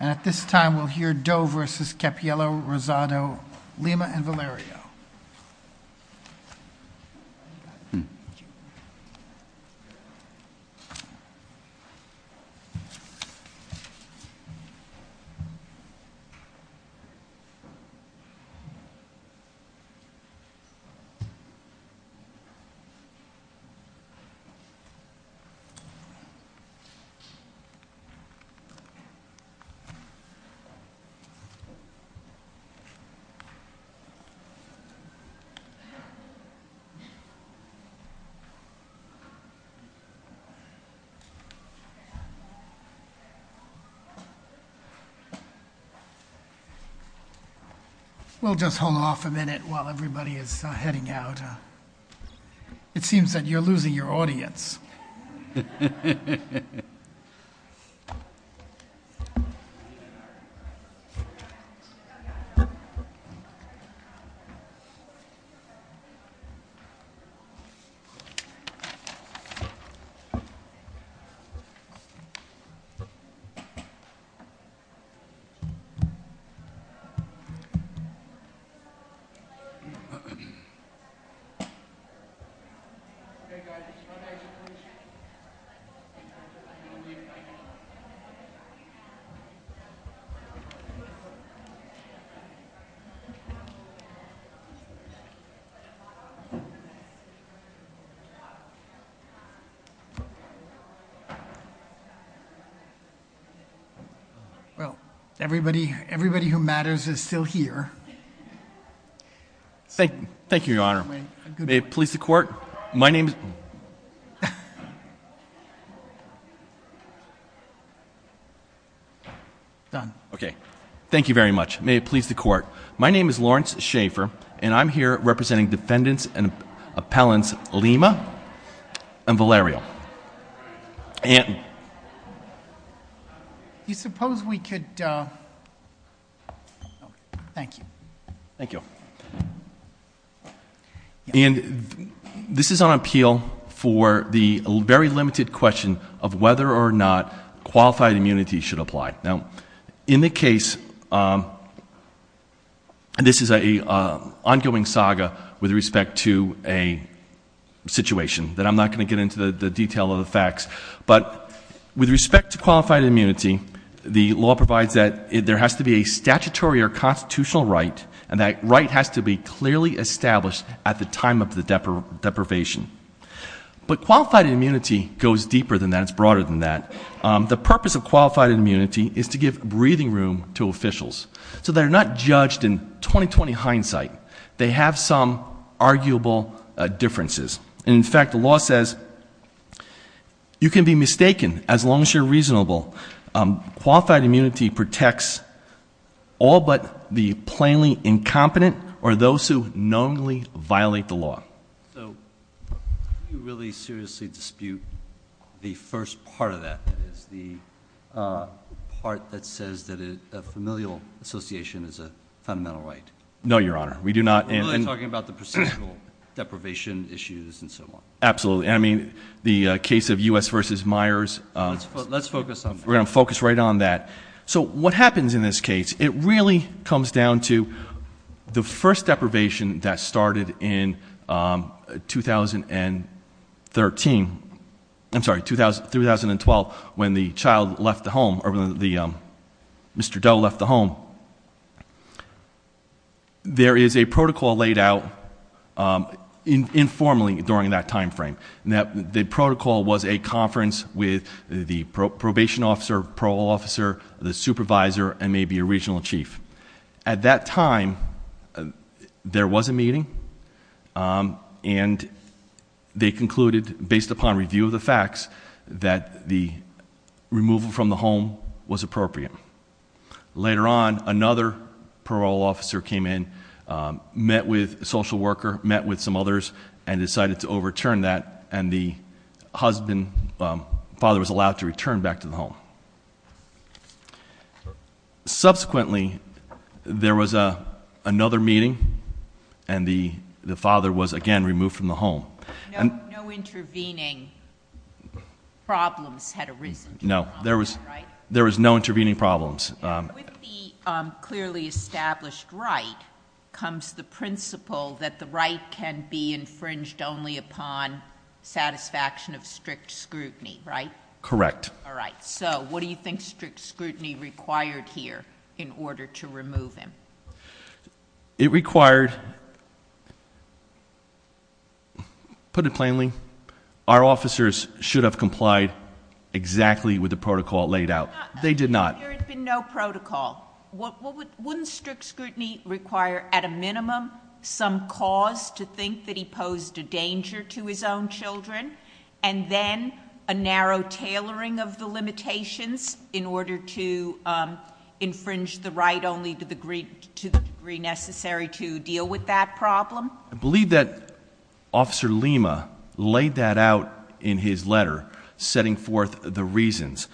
And at this time we'll hear Doe v. Capiello, Rosado, Lima, and Valerio. We'll just hold off a minute while everybody is heading out. It seems that you're losing your audience. Well, everybody who matters is still here. Thank you, Your Honor. May it please the Court, my name is... Done. Okay. Thank you very much. May it please the Court. My name is Lawrence Schaefer, and I'm here representing defendants and appellants Lima and Valerio. And... You suppose we could... Thank you. Thank you. And this is on appeal for the very limited question of whether or not qualified immunity should apply. Now, in the case... This is an ongoing saga with respect to a situation that I'm not going to get into the detail of the facts. But with respect to qualified immunity, the law provides that there has to be a statutory or constitutional right, and that right has to be clearly established at the time of the deprivation. But qualified immunity goes deeper than that, it's broader than that. The purpose of qualified immunity is to give breathing room to officials. So they're not judged in 20-20 hindsight. They have some arguable differences. And, in fact, the law says you can be mistaken as long as you're reasonable. Qualified immunity protects all but the plainly incompetent or those who knowingly violate the law. So do you really seriously dispute the first part of that? That is, the part that says that a familial association is a fundamental right? No, Your Honor. We do not. We're only talking about the procedural deprivation issues and so on. Absolutely. I mean, the case of U.S. v. Myers... Let's focus on that. We're going to focus right on that. So what happens in this case? It really comes down to the first deprivation that started in 2013. I'm sorry, 2012, when the child left the home, or when Mr. Doe left the home. There is a protocol laid out informally during that time frame. The protocol was a conference with the probation officer, parole officer, the supervisor, and maybe a regional chief. At that time, there was a meeting, and they concluded, based upon review of the facts, that the removal from the home was appropriate. Later on, another parole officer came in, met with a social worker, met with some others, and decided to overturn that, and the father was allowed to return back to the home. Subsequently, there was another meeting, and the father was again removed from the home. No intervening problems had arisen. No, there was no intervening problems. With the clearly established right comes the principle that the right can be infringed only upon satisfaction of strict scrutiny, right? Correct. All right. So what do you think strict scrutiny required here in order to remove him? It required, put it plainly, our officers should have complied exactly with the protocol laid out. They did not. There had been no protocol. Wouldn't strict scrutiny require, at a minimum, some cause to think that he posed a danger to his own children? And then a narrow tailoring of the limitations in order to infringe the right only to the degree necessary to deal with that problem? I believe that Officer Lima laid that out in his letter, setting forth the reasons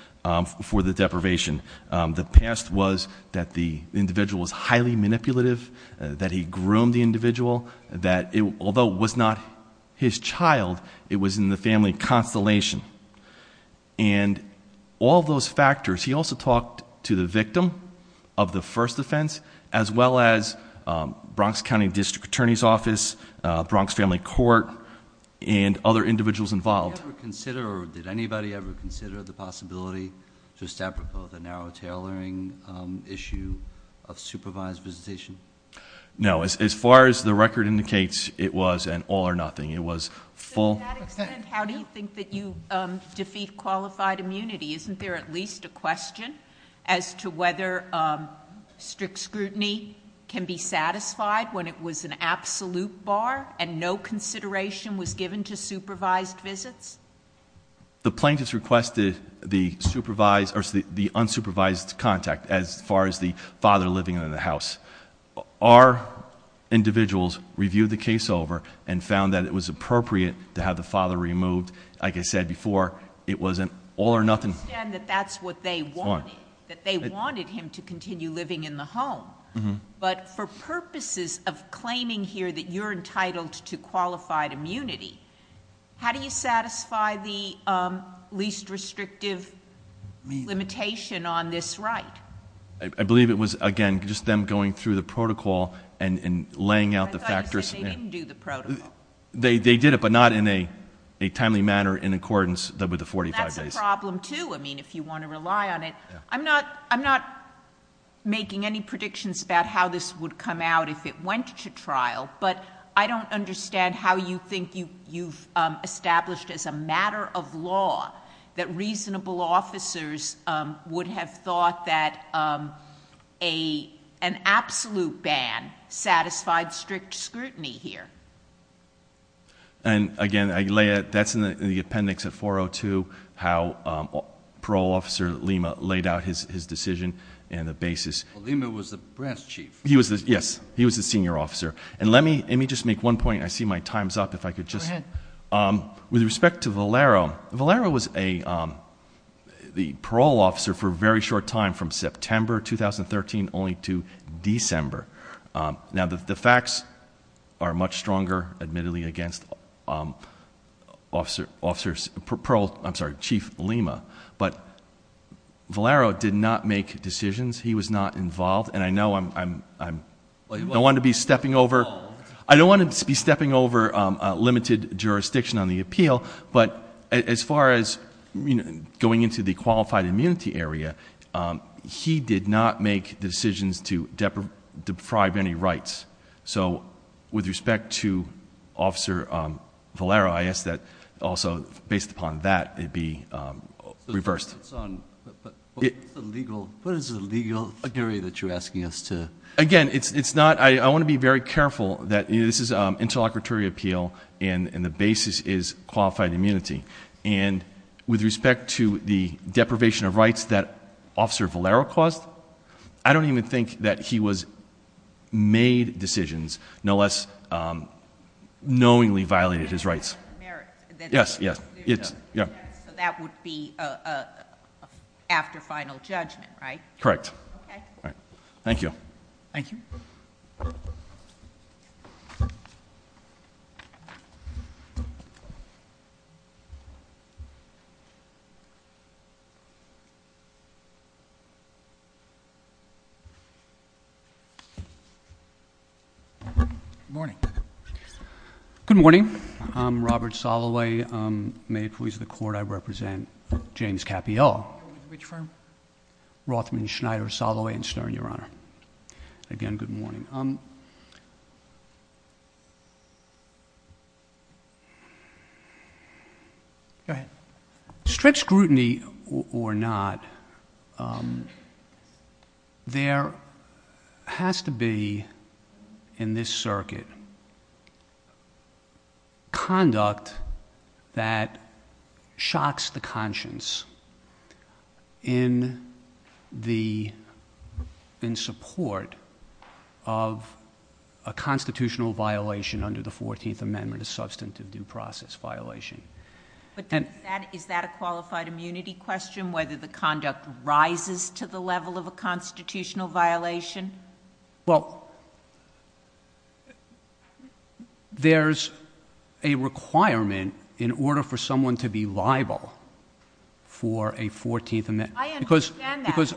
for the deprivation. The past was that the individual was highly manipulative, that he groomed the individual, that although it was not his child, it was in the family constellation. And all those factors. He also talked to the victim of the first offense, as well as Bronx County District Attorney's Office, Bronx Family Court, and other individuals involved. Did anybody ever consider the possibility, just apropos, the narrow tailoring issue of supervised visitation? No. As far as the record indicates, it was an all or nothing. It was full. To that extent, how do you think that you defeat qualified immunity? Isn't there at least a question as to whether strict scrutiny can be satisfied when it was an absolute bar and no consideration was given to supervised visits? The plaintiffs requested the unsupervised contact as far as the father living in the house. Our individuals reviewed the case over and found that it was appropriate to have the father removed. Like I said before, it was an all or nothing. I understand that that's what they wanted, that they wanted him to continue living in the home. But for purposes of claiming here that you're entitled to qualified immunity, how do you satisfy the least restrictive limitation on this right? I believe it was, again, just them going through the protocol and laying out the factors. I thought you said they didn't do the protocol. They did it, but not in a timely manner in accordance with the 45 days. That's a problem, too, if you want to rely on it. I'm not making any predictions about how this would come out if it went to trial, but I don't understand how you think you've established as a matter of law that reasonable officers would have thought that an absolute ban satisfied strict scrutiny here. Again, that's in the appendix of 402, how Parole Officer Lima laid out his decision and the basis. Lima was the brass chief. Yes, he was the senior officer. Let me just make one point. I see my time's up. Go ahead. With respect to Valero, Valero was the parole officer for a very short time from September 2013 only to December. Now, the facts are much stronger, admittedly, against Chief Lima, but Valero did not make decisions. He was not involved, and I know I don't want to be stepping over limited jurisdiction on the appeal, but as far as going into the qualified immunity area, he did not make decisions to deprive any rights. So with respect to Officer Valero, I ask that also, based upon that, it be reversed. What is the legal theory that you're asking us to? Again, I want to be very careful that this is an interlocutory appeal and the basis is qualified immunity. And with respect to the deprivation of rights that Officer Valero caused, I don't even think that he made decisions, no less knowingly violated his rights. Yes, yes. So that would be after final judgment, right? Correct. Okay. All right. Thank you. Thank you. Good morning. Good morning. I'm Robert Soloway, Maine Police of the Court. I represent James Cappiello. Which firm? Rothman, Schneider, Soloway, and Stern, Your Honor. Again, good morning. Go ahead. Strict scrutiny or not, there has to be, in this circuit, conduct that shocks the conscience in support of a constitutional violation under the 14th Amendment, a substantive due process violation. Is that a qualified immunity question, whether the conduct rises to the level of a constitutional violation? Well, there's a requirement in order for someone to be liable for a 14th Amendment. I understand that, but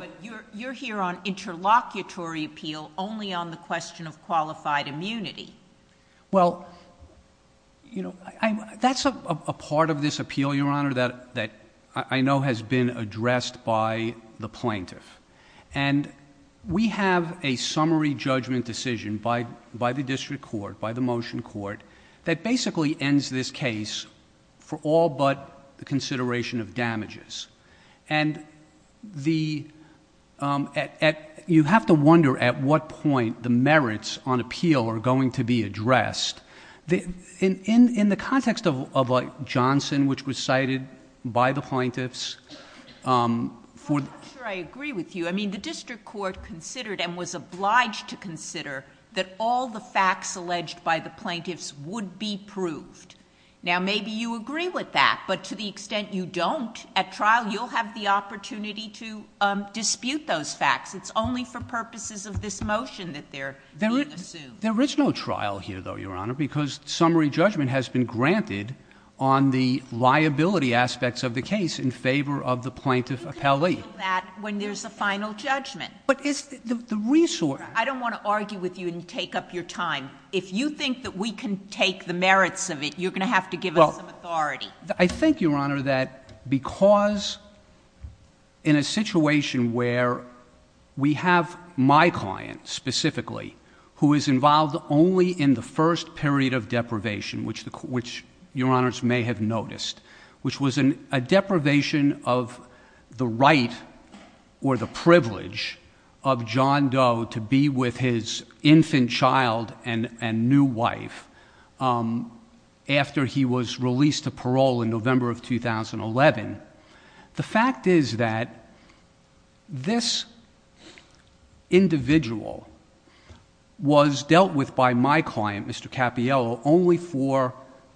you're here on interlocutory appeal only on the question of qualified immunity. Well, you know, that's a part of this appeal, Your Honor, that I know has been addressed by the plaintiff. And we have a summary judgment decision by the district court, by the motion court, that basically ends this case for all but the consideration of damages. And you have to wonder at what point the merits on appeal are going to be addressed. In the context of Johnson, which was cited by the plaintiffs, for the- I'm not sure I agree with you. I mean, the district court considered and was obliged to consider that all the facts alleged by the plaintiffs would be proved. Now, maybe you agree with that, but to the extent you don't, at trial you'll have the opportunity to dispute those facts. It's only for purposes of this motion that they're being assumed. There is no trial here, though, Your Honor, because summary judgment has been granted on the liability aspects of the case in favor of the plaintiff appellee. We can deal with that when there's a final judgment. But is the resource- I don't want to argue with you and take up your time. If you think that we can take the merits of it, you're going to have to give us some authority. Well, I think, Your Honor, that because in a situation where we have my client, specifically, who is involved only in the first period of deprivation, which Your Honors may have noticed, which was a deprivation of the right or the privilege of John Doe to be with his infant child and new wife after he was released to parole in November of 2011, the fact is that this individual was dealt with by my client, Mr. Cappiello, only for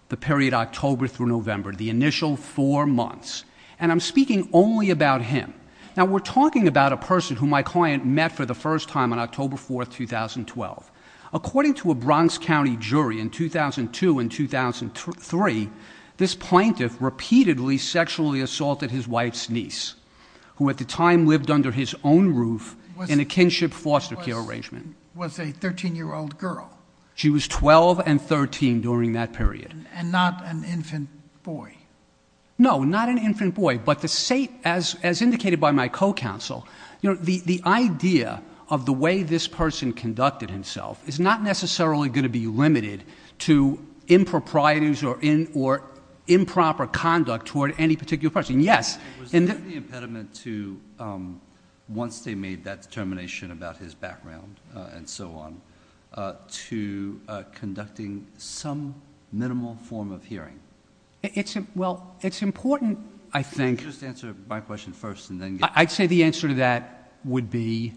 the period October through November, the initial four months. And I'm speaking only about him. Now, we're talking about a person who my client met for the first time on October 4, 2012. According to a Bronx County jury in 2002 and 2003, this plaintiff repeatedly sexually assaulted his wife's niece, who at the time lived under his own roof in a kinship foster care arrangement. Was a 13-year-old girl. She was 12 and 13 during that period. And not an infant boy. No, not an infant boy. But as indicated by my co-counsel, the idea of the way this person conducted himself is not necessarily going to be limited to improprieties or improper conduct toward any particular person. Yes. Was there an impediment to, once they made that determination about his background and so on, to conducting some minimal form of hearing? Well, it's important, I think — Could you just answer my question first and then get — I'd say the answer to that would be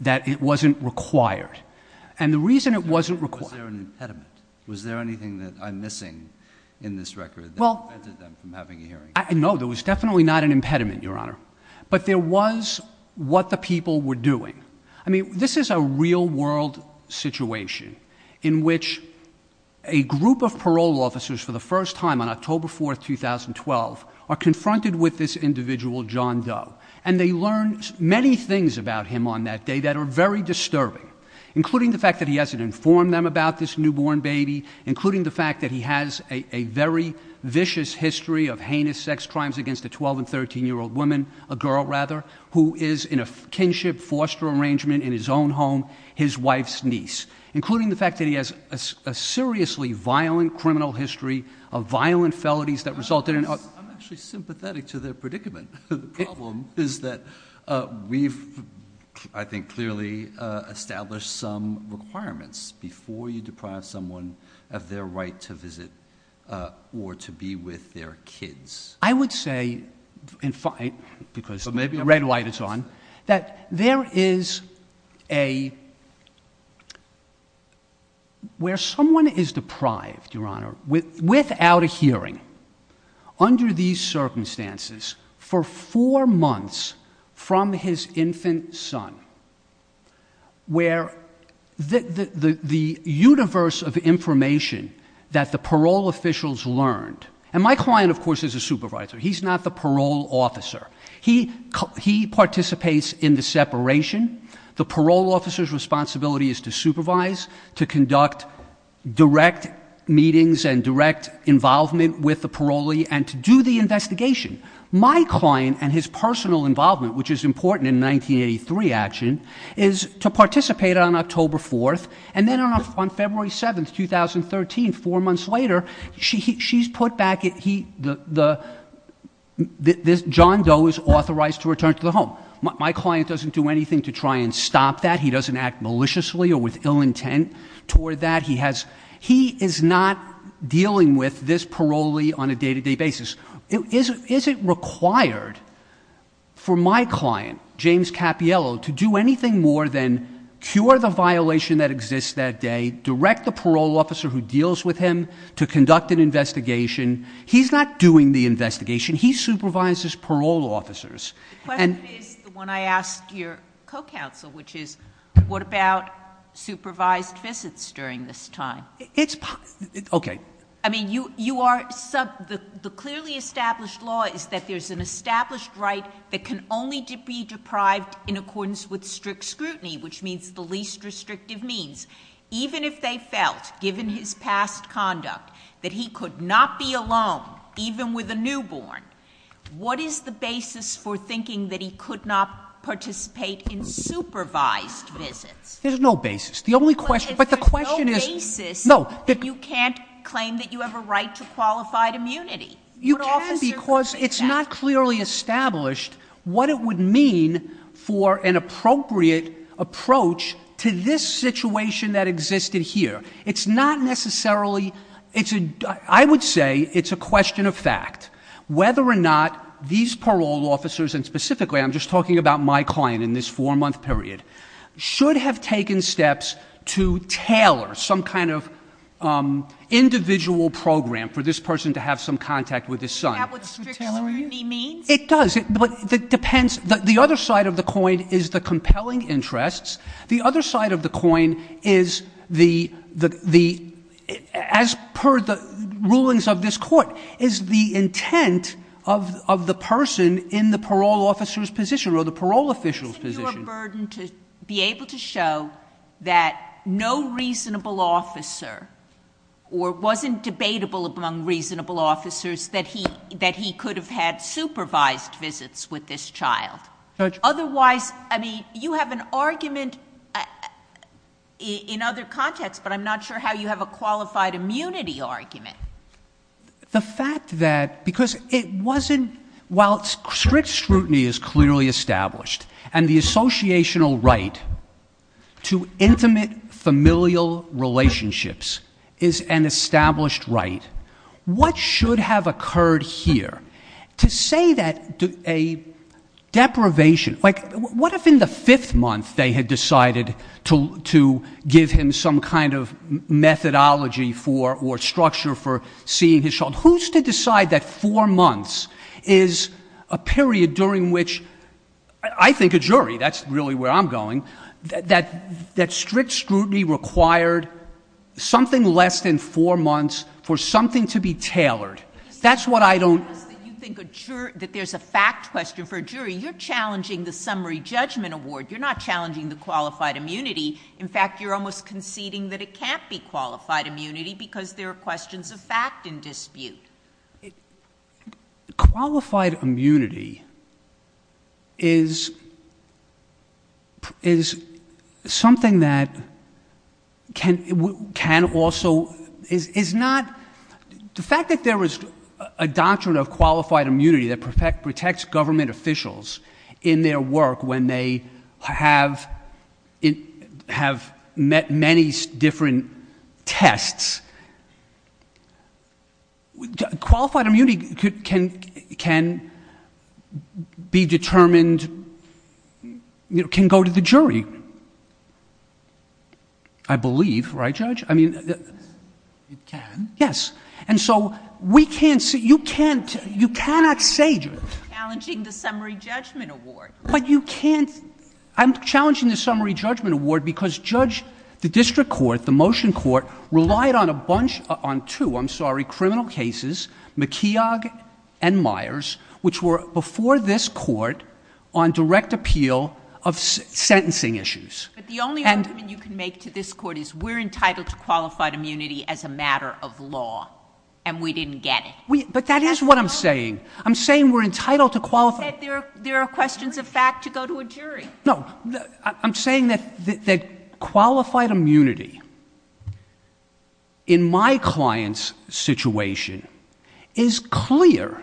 that it wasn't required. And the reason it wasn't required — Was there an impediment? Was there anything that I'm missing in this record that prevented them from having a hearing? No, there was definitely not an impediment, Your Honor. But there was what the people were doing. I mean, this is a real-world situation in which a group of parole officers for the first time on October 4, 2012, are confronted with this individual, John Doe. And they learn many things about him on that day that are very disturbing, including the fact that he hasn't informed them about this newborn baby, including the fact that he has a very vicious history of heinous sex crimes against a 12- and 13-year-old woman —— in his own home, his wife's niece, including the fact that he has a seriously violent criminal history of violent felonies that resulted in — I'm actually sympathetic to their predicament. The problem is that we've, I think, clearly established some requirements before you deprive someone of their right to visit or to be with their kids. I would say, because the red light is on, that there is a — where someone is deprived, Your Honor, without a hearing, under these circumstances, for four months from his infant son, where the universe of information that the parole officials learned — And my client, of course, is a supervisor. He's not the parole officer. He participates in the separation. The parole officer's responsibility is to supervise, to conduct direct meetings and direct involvement with the parolee, and to do the investigation. My client and his personal involvement, which is important in 1983 action, is to participate on October 4th, and then on February 7th, 2013, four months later, she's put back — John Doe is authorized to return to the home. My client doesn't do anything to try and stop that. He doesn't act maliciously or with ill intent toward that. He is not dealing with this parolee on a day-to-day basis. Is it required for my client, James Cappiello, to do anything more than cure the violation that exists that day, direct the parole officer who deals with him to conduct an investigation? He's not doing the investigation. He supervises parole officers. The question is, the one I asked your co-counsel, which is, what about supervised visits during this time? It's — okay. I mean, you are — the clearly established law is that there's an established right that can only be deprived in accordance with strict scrutiny, which means the least restrictive means. Even if they felt, given his past conduct, that he could not be alone, even with a newborn, what is the basis for thinking that he could not participate in supervised visits? There's no basis. The only question — but the question is — But if there's no basis, you can't claim that you have a right to qualified immunity. You can because it's not clearly established what it would mean for an appropriate approach to this situation that existed here. It's not necessarily — I would say it's a question of fact whether or not these parole officers, and specifically I'm just talking about my client in this four-month period, should have taken steps to tailor some kind of individual program for this person to have some contact with his son. Is that what strict scrutiny means? It does. But it depends. The other side of the coin is the compelling interests. The other side of the coin is the — as per the rulings of this Court, is the intent of the person in the parole officer's position or the parole official's position. Would it be your burden to be able to show that no reasonable officer or wasn't debatable among reasonable officers that he could have had supervised visits with this child? Judge — Otherwise — I mean, you have an argument in other contexts, but I'm not sure how you have a qualified immunity argument. The fact that — because it wasn't — while strict scrutiny is clearly established, and the associational right to intimate familial relationships is an established right, what should have occurred here? To say that a deprivation — like, what if in the fifth month they had decided to give him some kind of methodology for or structure for seeing his child? Who's to decide that four months is a period during which — I think a jury, that's really where I'm going — that strict scrutiny required something less than four months for something to be tailored? That's what I don't — You think a jury — that there's a fact question for a jury. You're challenging the summary judgment award. You're not challenging the qualified immunity. In fact, you're almost conceding that it can't be qualified immunity because there are questions of fact in dispute. Qualified immunity is something that can also — is not — the fact that there is a doctrine of qualified immunity that protects government officials in their work when they have met many different tests — Qualified immunity can be determined — can go to the jury, I believe, right, Judge? I mean — It can. Yes. And so we can't — you can't — you cannot say — You're challenging the summary judgment award. I'm challenging the summary judgment award because, Judge, the district court, the motion court, relied on a bunch — on two, I'm sorry, criminal cases, McKeog and Myers, which were before this court on direct appeal of sentencing issues. But the only argument you can make to this court is we're entitled to qualified immunity as a matter of law, and we didn't get it. But that is what I'm saying. I'm saying we're entitled to qualified — You said there are questions of fact to go to a jury. No. I'm saying that qualified immunity in my client's situation is clear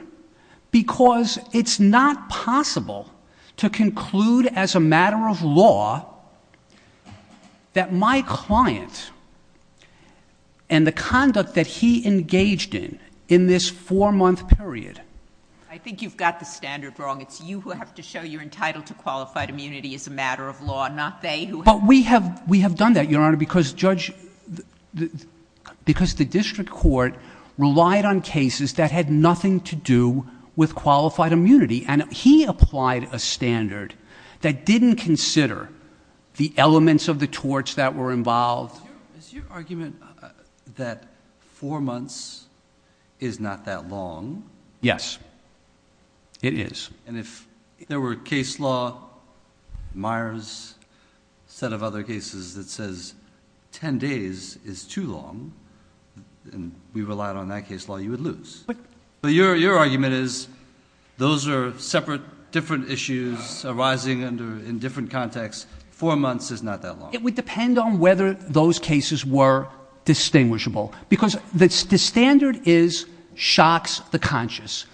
because it's not possible to conclude as a matter of law that my client and the conduct that he engaged in in this four-month period — I think you've got the standard wrong. It's you who have to show you're entitled to qualified immunity as a matter of law, not they who — But we have done that, Your Honor, because, Judge — because the district court relied on cases that had nothing to do with qualified immunity. And he applied a standard that didn't consider the elements of the torch that were involved. Is your argument that four months is not that long? Yes. It is. And if there were a case law, Myers, set of other cases that says 10 days is too long, and we relied on that case law, you would lose. But your argument is those are separate, different issues arising under — in different contexts. Four months is not that long. It would depend on whether those cases were distinguishable, because the standard is shocks the conscious.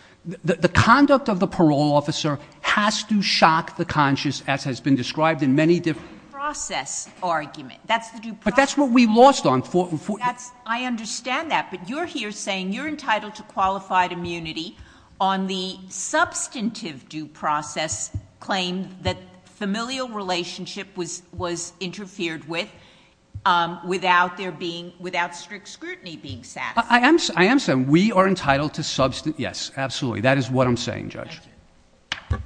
The conduct of the parole officer has to shock the conscious, as has been described in many different — Due process argument. But that's what we lost on four — Without their being — without strict scrutiny being satisfied. I am saying we are entitled to — yes, absolutely. That is what I'm saying, Judge. Thank you.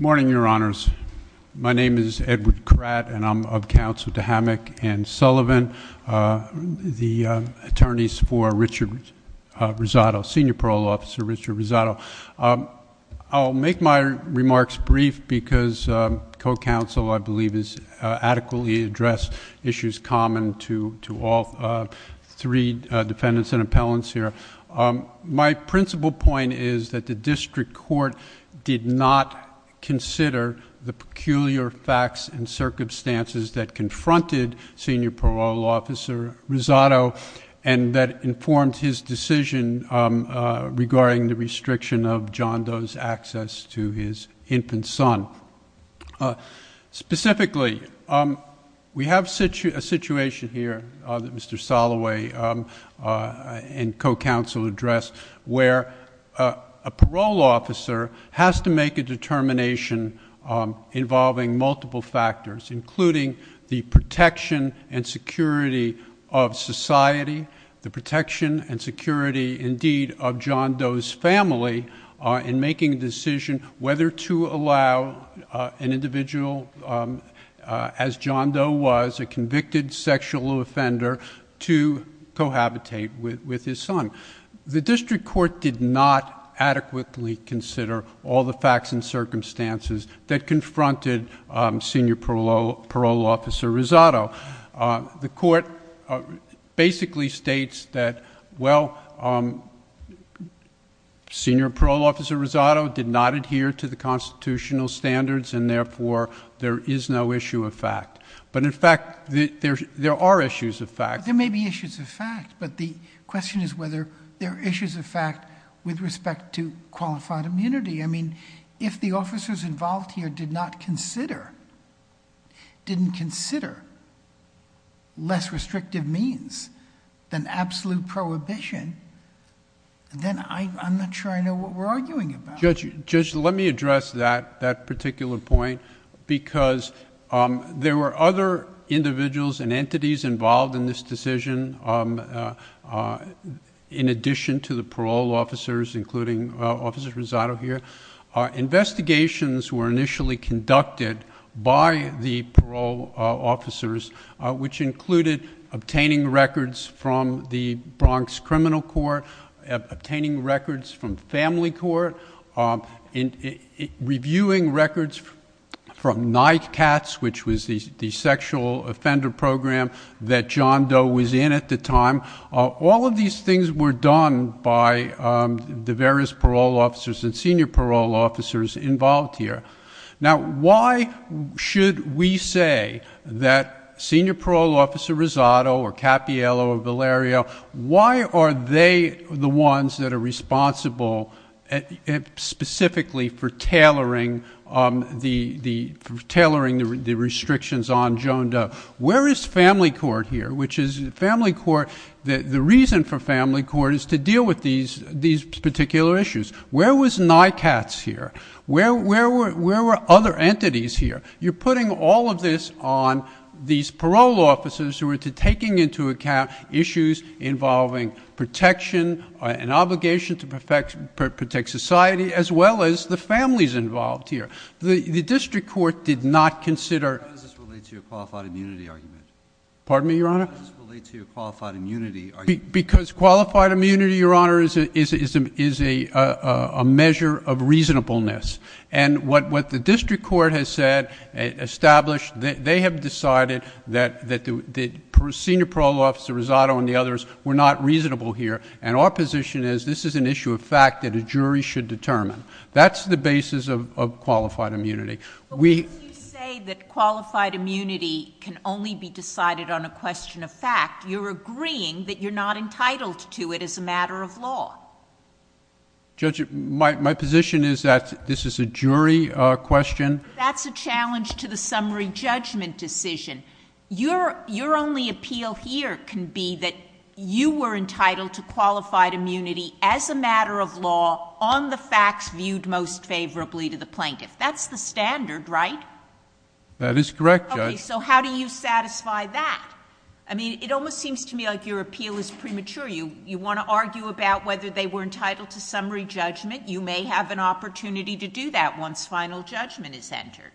Morning, Your Honors. My name is Edward Kratt, and I'm of counsel to Hammack and Sullivan, the attorneys for Richard Rosado, Senior Parole Officer Richard Rosado. I'll make my remarks brief, because co-counsel, I believe, has adequately addressed issues common to all three defendants and appellants here. My principal point is that the district court did not consider the peculiar facts and circumstances that confronted Senior Parole Officer Rosado, and that informed his decision regarding the restriction of John Doe's access to his infant son. Specifically, we have a situation here that Mr. Soloway and co-counsel addressed, where a parole officer has to make a determination involving multiple factors, including the protection and security of society, the protection and security, indeed, of John Doe's family, in making a decision whether to allow an individual, as John Doe was, a convicted sexual offender, to cohabitate with his son. The district court did not adequately consider all the facts and circumstances that confronted Senior Parole Officer Rosado. The court basically states that, well, Senior Parole Officer Rosado did not adhere to the constitutional standards, and, therefore, there is no issue of fact. But, in fact, there are issues of fact. But the question is whether there are issues of fact with respect to qualified immunity. I mean, if the officers involved here did not consider, didn't consider, less restrictive means than absolute prohibition, then I'm not sure I know what we're arguing about. Judge, let me address that particular point, because there were other individuals and entities involved in this decision, in addition to the parole officers, including Officer Rosado here. Investigations were initially conducted by the parole officers, which included obtaining records from the Bronx Criminal Court, obtaining records from Family Court, reviewing records from NICATS, which was the sexual offender program that John Doe was in at the time. All of these things were done by the various parole officers and senior parole officers involved here. Now, why should we say that Senior Parole Officer Rosado or Cappiello or Valerio, why are they the ones that are responsible specifically for tailoring the restrictions on John Doe? Where is Family Court here? The reason for Family Court is to deal with these particular issues. Where was NICATS here? Where were other entities here? You're putting all of this on these parole officers who are taking into account issues involving protection, an obligation to protect society, as well as the families involved here. The District Court did not consider— Why does this relate to your qualified immunity argument? Pardon me, Your Honor? Why does this relate to your qualified immunity argument? Because qualified immunity, Your Honor, is a measure of reasonableness. And what the District Court has said, established, they have decided that Senior Parole Officer Rosado and the others were not reasonable here. And our position is this is an issue of fact that a jury should determine. That's the basis of qualified immunity. But when you say that qualified immunity can only be decided on a question of fact, you're agreeing that you're not entitled to it as a matter of law. Judge, my position is that this is a jury question. That's a challenge to the summary judgment decision. Your only appeal here can be that you were entitled to qualified immunity as a matter of law on the facts viewed most favorably to the plaintiff. That's the standard, right? That is correct, Judge. Okay, so how do you satisfy that? I mean, it almost seems to me like your appeal is premature. You want to argue about whether they were entitled to summary judgment. You may have an opportunity to do that once final judgment is entered.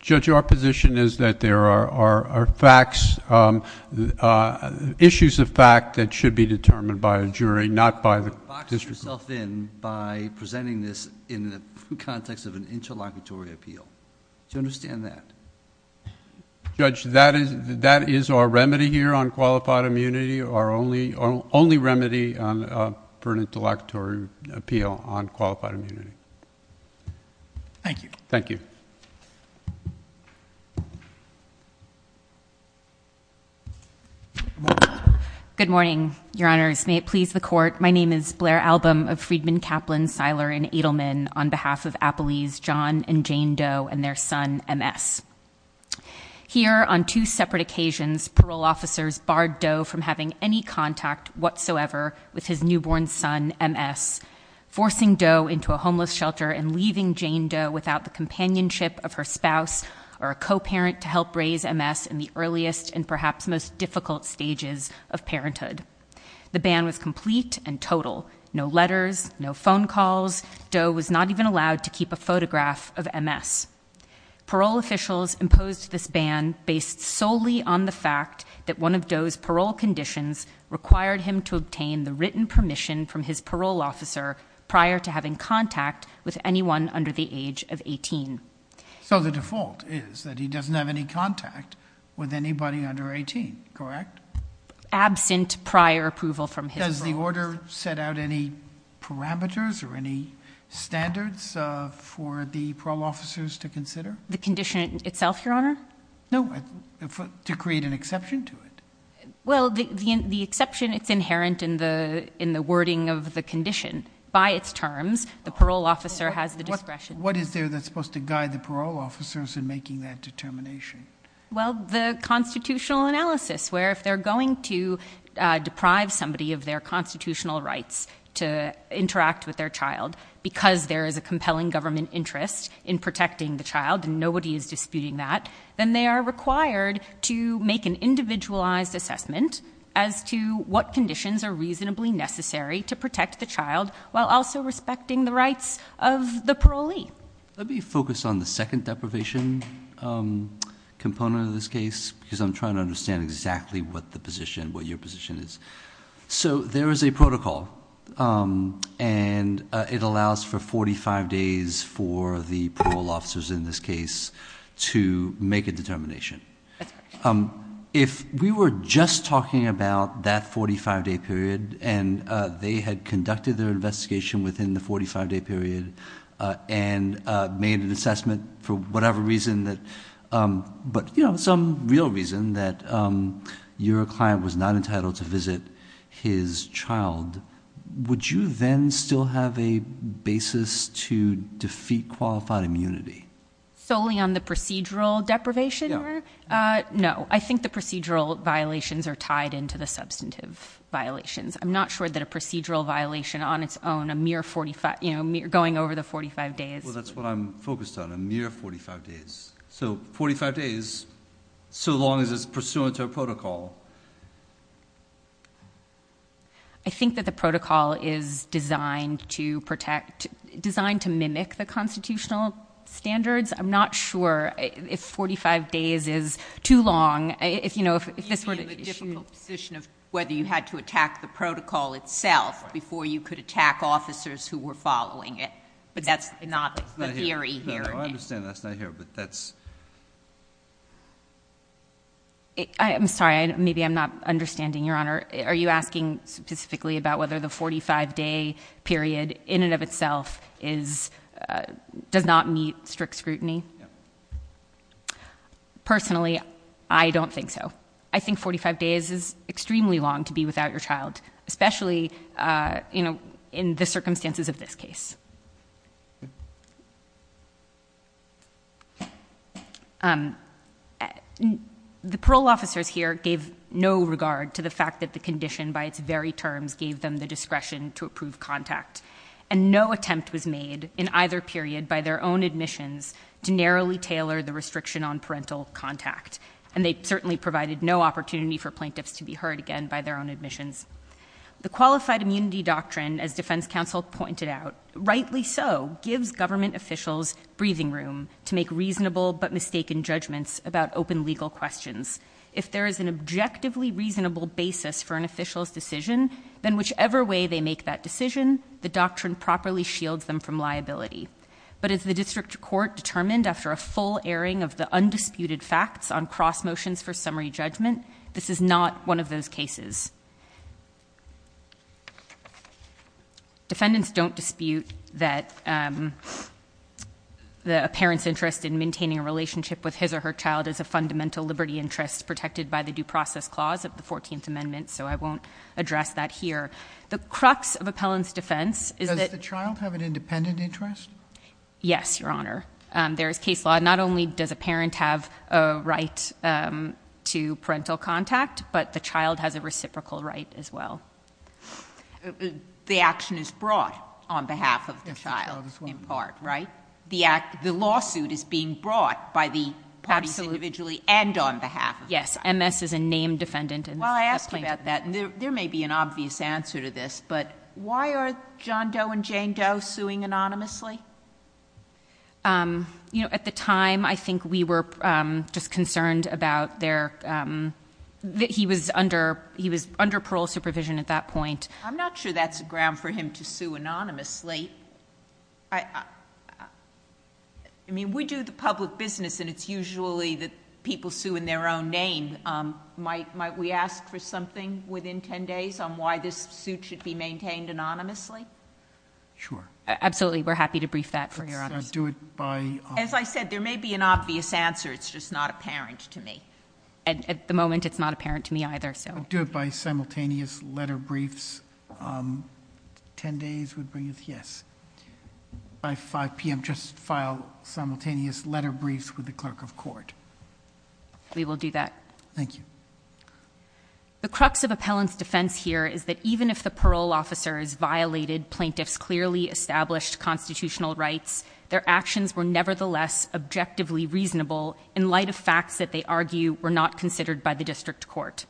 Judge, our position is that there are facts, issues of fact that should be determined by a jury, not by the District Court. Box yourself in by presenting this in the context of an interlocutory appeal. Do you understand that? Judge, that is our remedy here on qualified immunity, our only remedy for an interlocutory appeal on qualified immunity. Thank you. Thank you. Good morning, Your Honors. May it please the Court. My name is Blair Album of Friedman, Kaplan, Seiler, and Edelman on behalf of Appelee's John and Jane Doe and their son, M.S. Here, on two separate occasions, parole officers barred Doe from having any contact whatsoever with his newborn son, M.S., forcing Doe into a homeless shelter and leaving Jane Doe without the companionship of her spouse or a co-parent to help raise M.S. in the earliest and perhaps most difficult stages of parenthood. The ban was complete and total. No letters, no phone calls. Doe was not even allowed to keep a photograph of M.S. Parole officials imposed this ban based solely on the fact that one of Doe's parole conditions required him to obtain the written permission from his parole officer prior to having contact with anyone under the age of 18. So the default is that he doesn't have any contact with anybody under 18, correct? Absent prior approval from his parole officer. Has the order set out any parameters or any standards for the parole officers to consider? The condition itself, Your Honor? No, to create an exception to it. Well, the exception is inherent in the wording of the condition. By its terms, the parole officer has the discretion. What is there that's supposed to guide the parole officers in making that determination? Well, the constitutional analysis where if they're going to deprive somebody of their constitutional rights to interact with their child because there is a compelling government interest in protecting the child and nobody is disputing that, then they are required to make an individualized assessment as to what conditions are reasonably necessary to protect the child while also respecting the rights of the parolee. Let me focus on the second deprivation component of this case because I'm trying to understand exactly what the position, what your position is. So there is a protocol and it allows for 45 days for the parole officers in this case to make a determination. If we were just talking about that 45-day period and they had conducted their investigation within the 45-day period and made an assessment for whatever reason, but some real reason, that your client was not entitled to visit his child, would you then still have a basis to defeat qualified immunity? Solely on the procedural deprivation? No, I think the procedural violations are tied into the substantive violations. I'm not sure that a procedural violation on its own, a mere 45, you know, going over the 45 days. Well, that's what I'm focused on, a mere 45 days. So 45 days, so long as it's pursuant to a protocol. I think that the protocol is designed to protect, designed to mimic the constitutional standards. I'm not sure if 45 days is too long. You'd be in the difficult position of whether you had to attack the protocol itself before you could attack officers who were following it. But that's not the theory here. No, I understand that's not here, but that's... I'm sorry, maybe I'm not understanding, Your Honor. Are you asking specifically about whether the 45-day period in and of itself does not meet strict scrutiny? No. Personally, I don't think so. I think 45 days is extremely long to be without your child, especially, you know, in the circumstances of this case. The parole officers here gave no regard to the fact that the condition by its very terms gave them the discretion to approve contact. And no attempt was made in either period by their own admissions to narrowly tailor the restriction on parental contact. And they certainly provided no opportunity for plaintiffs to be heard again by their own admissions. The qualified immunity doctrine, as defense counsel pointed out, rightly so, gives government officials breathing room to make reasonable but mistaken judgments about open legal questions. If there is an objectively reasonable basis for an official's decision, then whichever way they make that decision, the doctrine properly shields them from liability. But as the district court determined after a full airing of the undisputed facts on cross motions for summary judgment, this is not one of those cases. Defendants don't dispute that a parent's interest in maintaining a relationship with his or her child is a fundamental liberty interest protected by the Due Process Clause of the 14th Amendment. So I won't address that here. The crux of appellant's defense is that... Does the child have an independent interest? Yes, Your Honor. There is case law. Not only does a parent have a right to parental contact, but the child has a reciprocal right as well. The action is brought on behalf of the child in part, right? The lawsuit is being brought by the parties individually and on behalf of the child. Yes. MS is a named defendant. While I ask you about that, there may be an obvious answer to this, but why are John Doe and Jane Doe suing anonymously? You know, at the time, I think we were just concerned about their... He was under parole supervision at that point. I'm not sure that's a ground for him to sue anonymously. I mean, we do the public business, and it's usually that people sue in their own name. Might we ask for something within 10 days on why this suit should be maintained anonymously? Sure. Absolutely. We're happy to brief that for Your Honor. Let's do it by... As I said, there may be an obvious answer. It's just not apparent to me. At the moment, it's not apparent to me either, so... We'll do it by simultaneous letter briefs. 10 days would be... Yes. By 5 p.m., just file simultaneous letter briefs with the clerk of court. We will do that. Thank you. The crux of appellant's defense here is that even if the parole officer has violated plaintiff's clearly established constitutional rights, their actions were nevertheless objectively reasonable in light of facts that they argue were not considered by the district court.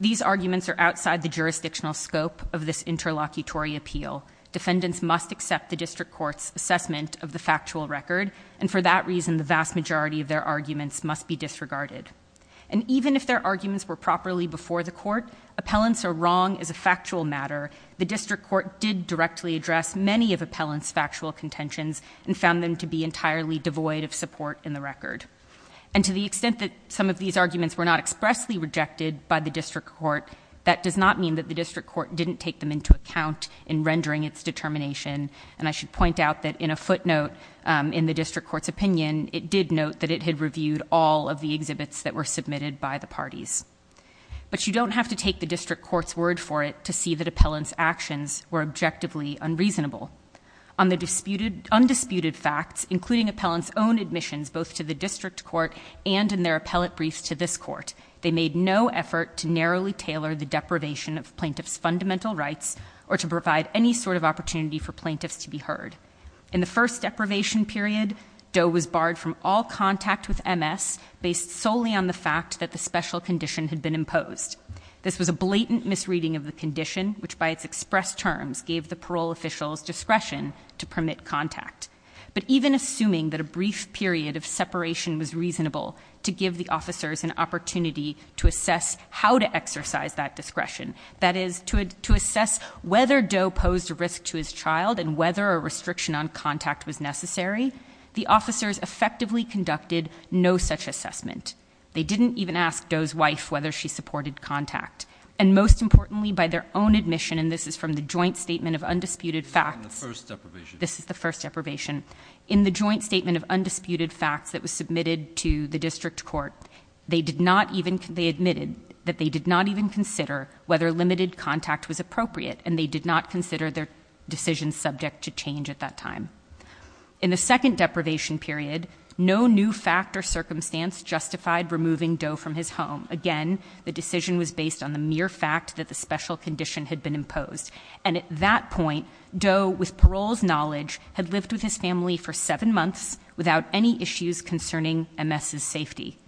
These arguments are outside the jurisdictional scope of this interlocutory appeal. Defendants must accept the district court's assessment of the factual record, and for that reason, the vast majority of their arguments must be disregarded. Even if their arguments were properly before the court, appellants are wrong as a factual matter. The district court did directly address many of appellants' factual contentions and found them to be entirely devoid of support in the record. To the extent that some of these arguments were not expressly rejected by the district court, that does not mean that the district court didn't take them into account in rendering its determination. I should point out that in a footnote in the district court's opinion, it did note that it had reviewed all of the exhibits that were submitted by the parties. But you don't have to take the district court's word for it to see that appellants' actions were objectively unreasonable. On the undisputed facts, including appellants' own admissions, both to the district court and in their appellant briefs to this court, they made no effort to narrowly tailor the deprivation of plaintiff's fundamental rights or to provide any sort of opportunity for plaintiffs to be heard. In the first deprivation period, Doe was barred from all contact with MS based solely on the fact that the special condition had been imposed. This was a blatant misreading of the condition, which by its expressed terms gave the parole officials discretion to permit contact. But even assuming that a brief period of separation was reasonable to give the officers an opportunity to assess how to exercise that discretion, that is, to assess whether Doe posed a risk to his child and whether a restriction on contact was necessary, the officers effectively conducted no such assessment. They didn't even ask Doe's wife whether she supported contact. And most importantly, by their own admission, and this is from the joint statement of undisputed facts, this is the first deprivation, in the joint statement of undisputed facts that was submitted to the district court, they admitted that they did not even consider whether limited contact was appropriate and they did not consider their decision subject to change at that time. In the second deprivation period, no new fact or circumstance justified removing Doe from his home. Again, the decision was based on the mere fact that the special condition had been imposed. had lived with his family for seven months without any issues concerning MS's safety.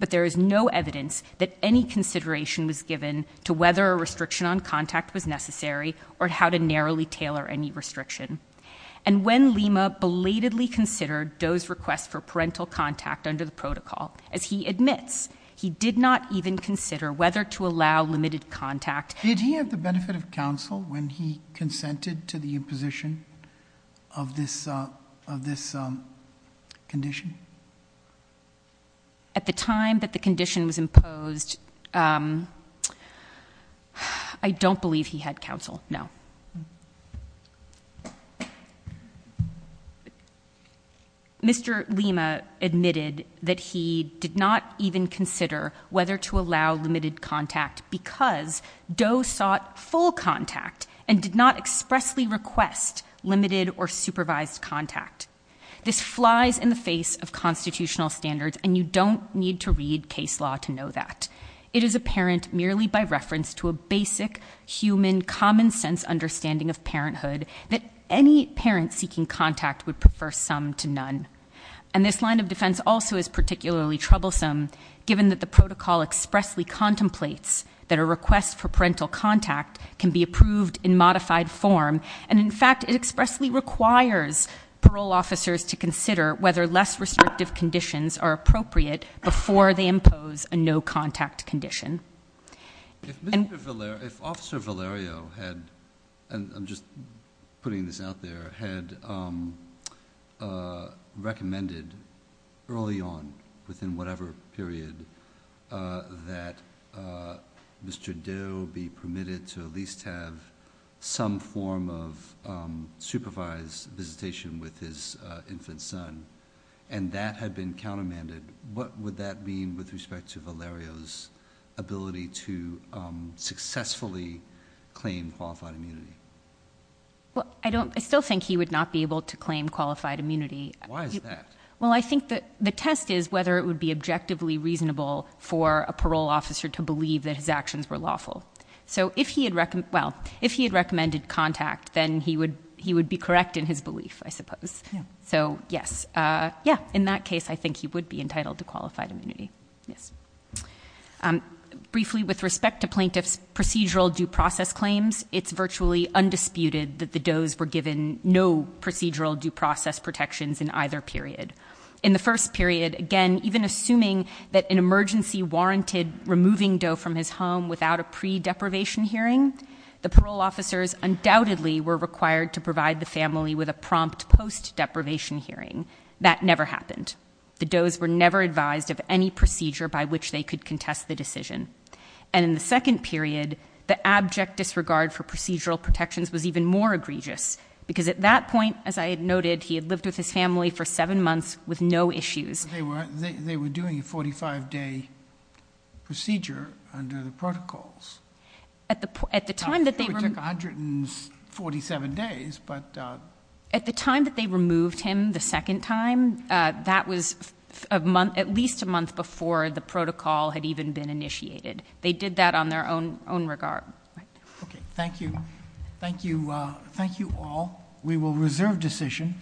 But there is no evidence that any consideration was given to whether a restriction on contact was necessary or how to narrowly tailor any restriction. And when Lima belatedly considered Doe's request for parental contact under the protocol, as he admits, he did not even consider whether to allow limited contact. Did he have the benefit of counsel when he consented to the imposition of this condition? At the time that the condition was imposed, I don't believe he had counsel, no. Mr. Lima admitted that he did not even consider whether to allow limited contact because Doe sought full contact and did not expressly request limited or supervised contact. This flies in the face of constitutional standards and you don't need to read case law to know that. It is apparent merely by reference to a basic human common sense understanding of parenthood that any parent seeking contact would prefer some to none. And this line of defense also is particularly troublesome given that the protocol expressly contemplates that a request for parental contact can be approved in modified form. And, in fact, it expressly requires parole officers to consider whether less restrictive conditions are appropriate before they impose a no contact condition. If Officer Valerio had, and I'm just putting this out there, had recommended early on, within whatever period, that Mr. Doe be permitted to at least have some form of supervised visitation with his infant son and that had been countermanded, what would that mean with respect to Valerio's ability to successfully claim qualified immunity? Well, I still think he would not be able to claim qualified immunity. Why is that? Well, I think the test is whether it would be objectively reasonable for a parole officer to believe that his actions were lawful. So if he had recommended contact, then he would be correct in his belief, I suppose. So, yes. Yeah, in that case, I think he would be entitled to qualified immunity. Yes. Briefly, with respect to plaintiff's procedural due process claims, it's virtually undisputed that the Does were given no procedural due process protections in either period. In the first period, again, even assuming that an emergency warranted removing Doe from his home without a pre-deprivation hearing, the parole officers undoubtedly were required to provide the family with a prompt post-deprivation hearing. That never happened. The Does were never advised of any procedure by which they could contest the decision. And in the second period, the abject disregard for procedural protections was even more egregious because at that point, as I had noted, he had lived with his family for seven months with no issues. It took 147 days, but. At the time that they removed him the second time, that was at least a month before the protocol had even been initiated. They did that on their own regard. Okay. Thank you. Thank you all. We will reserve decision.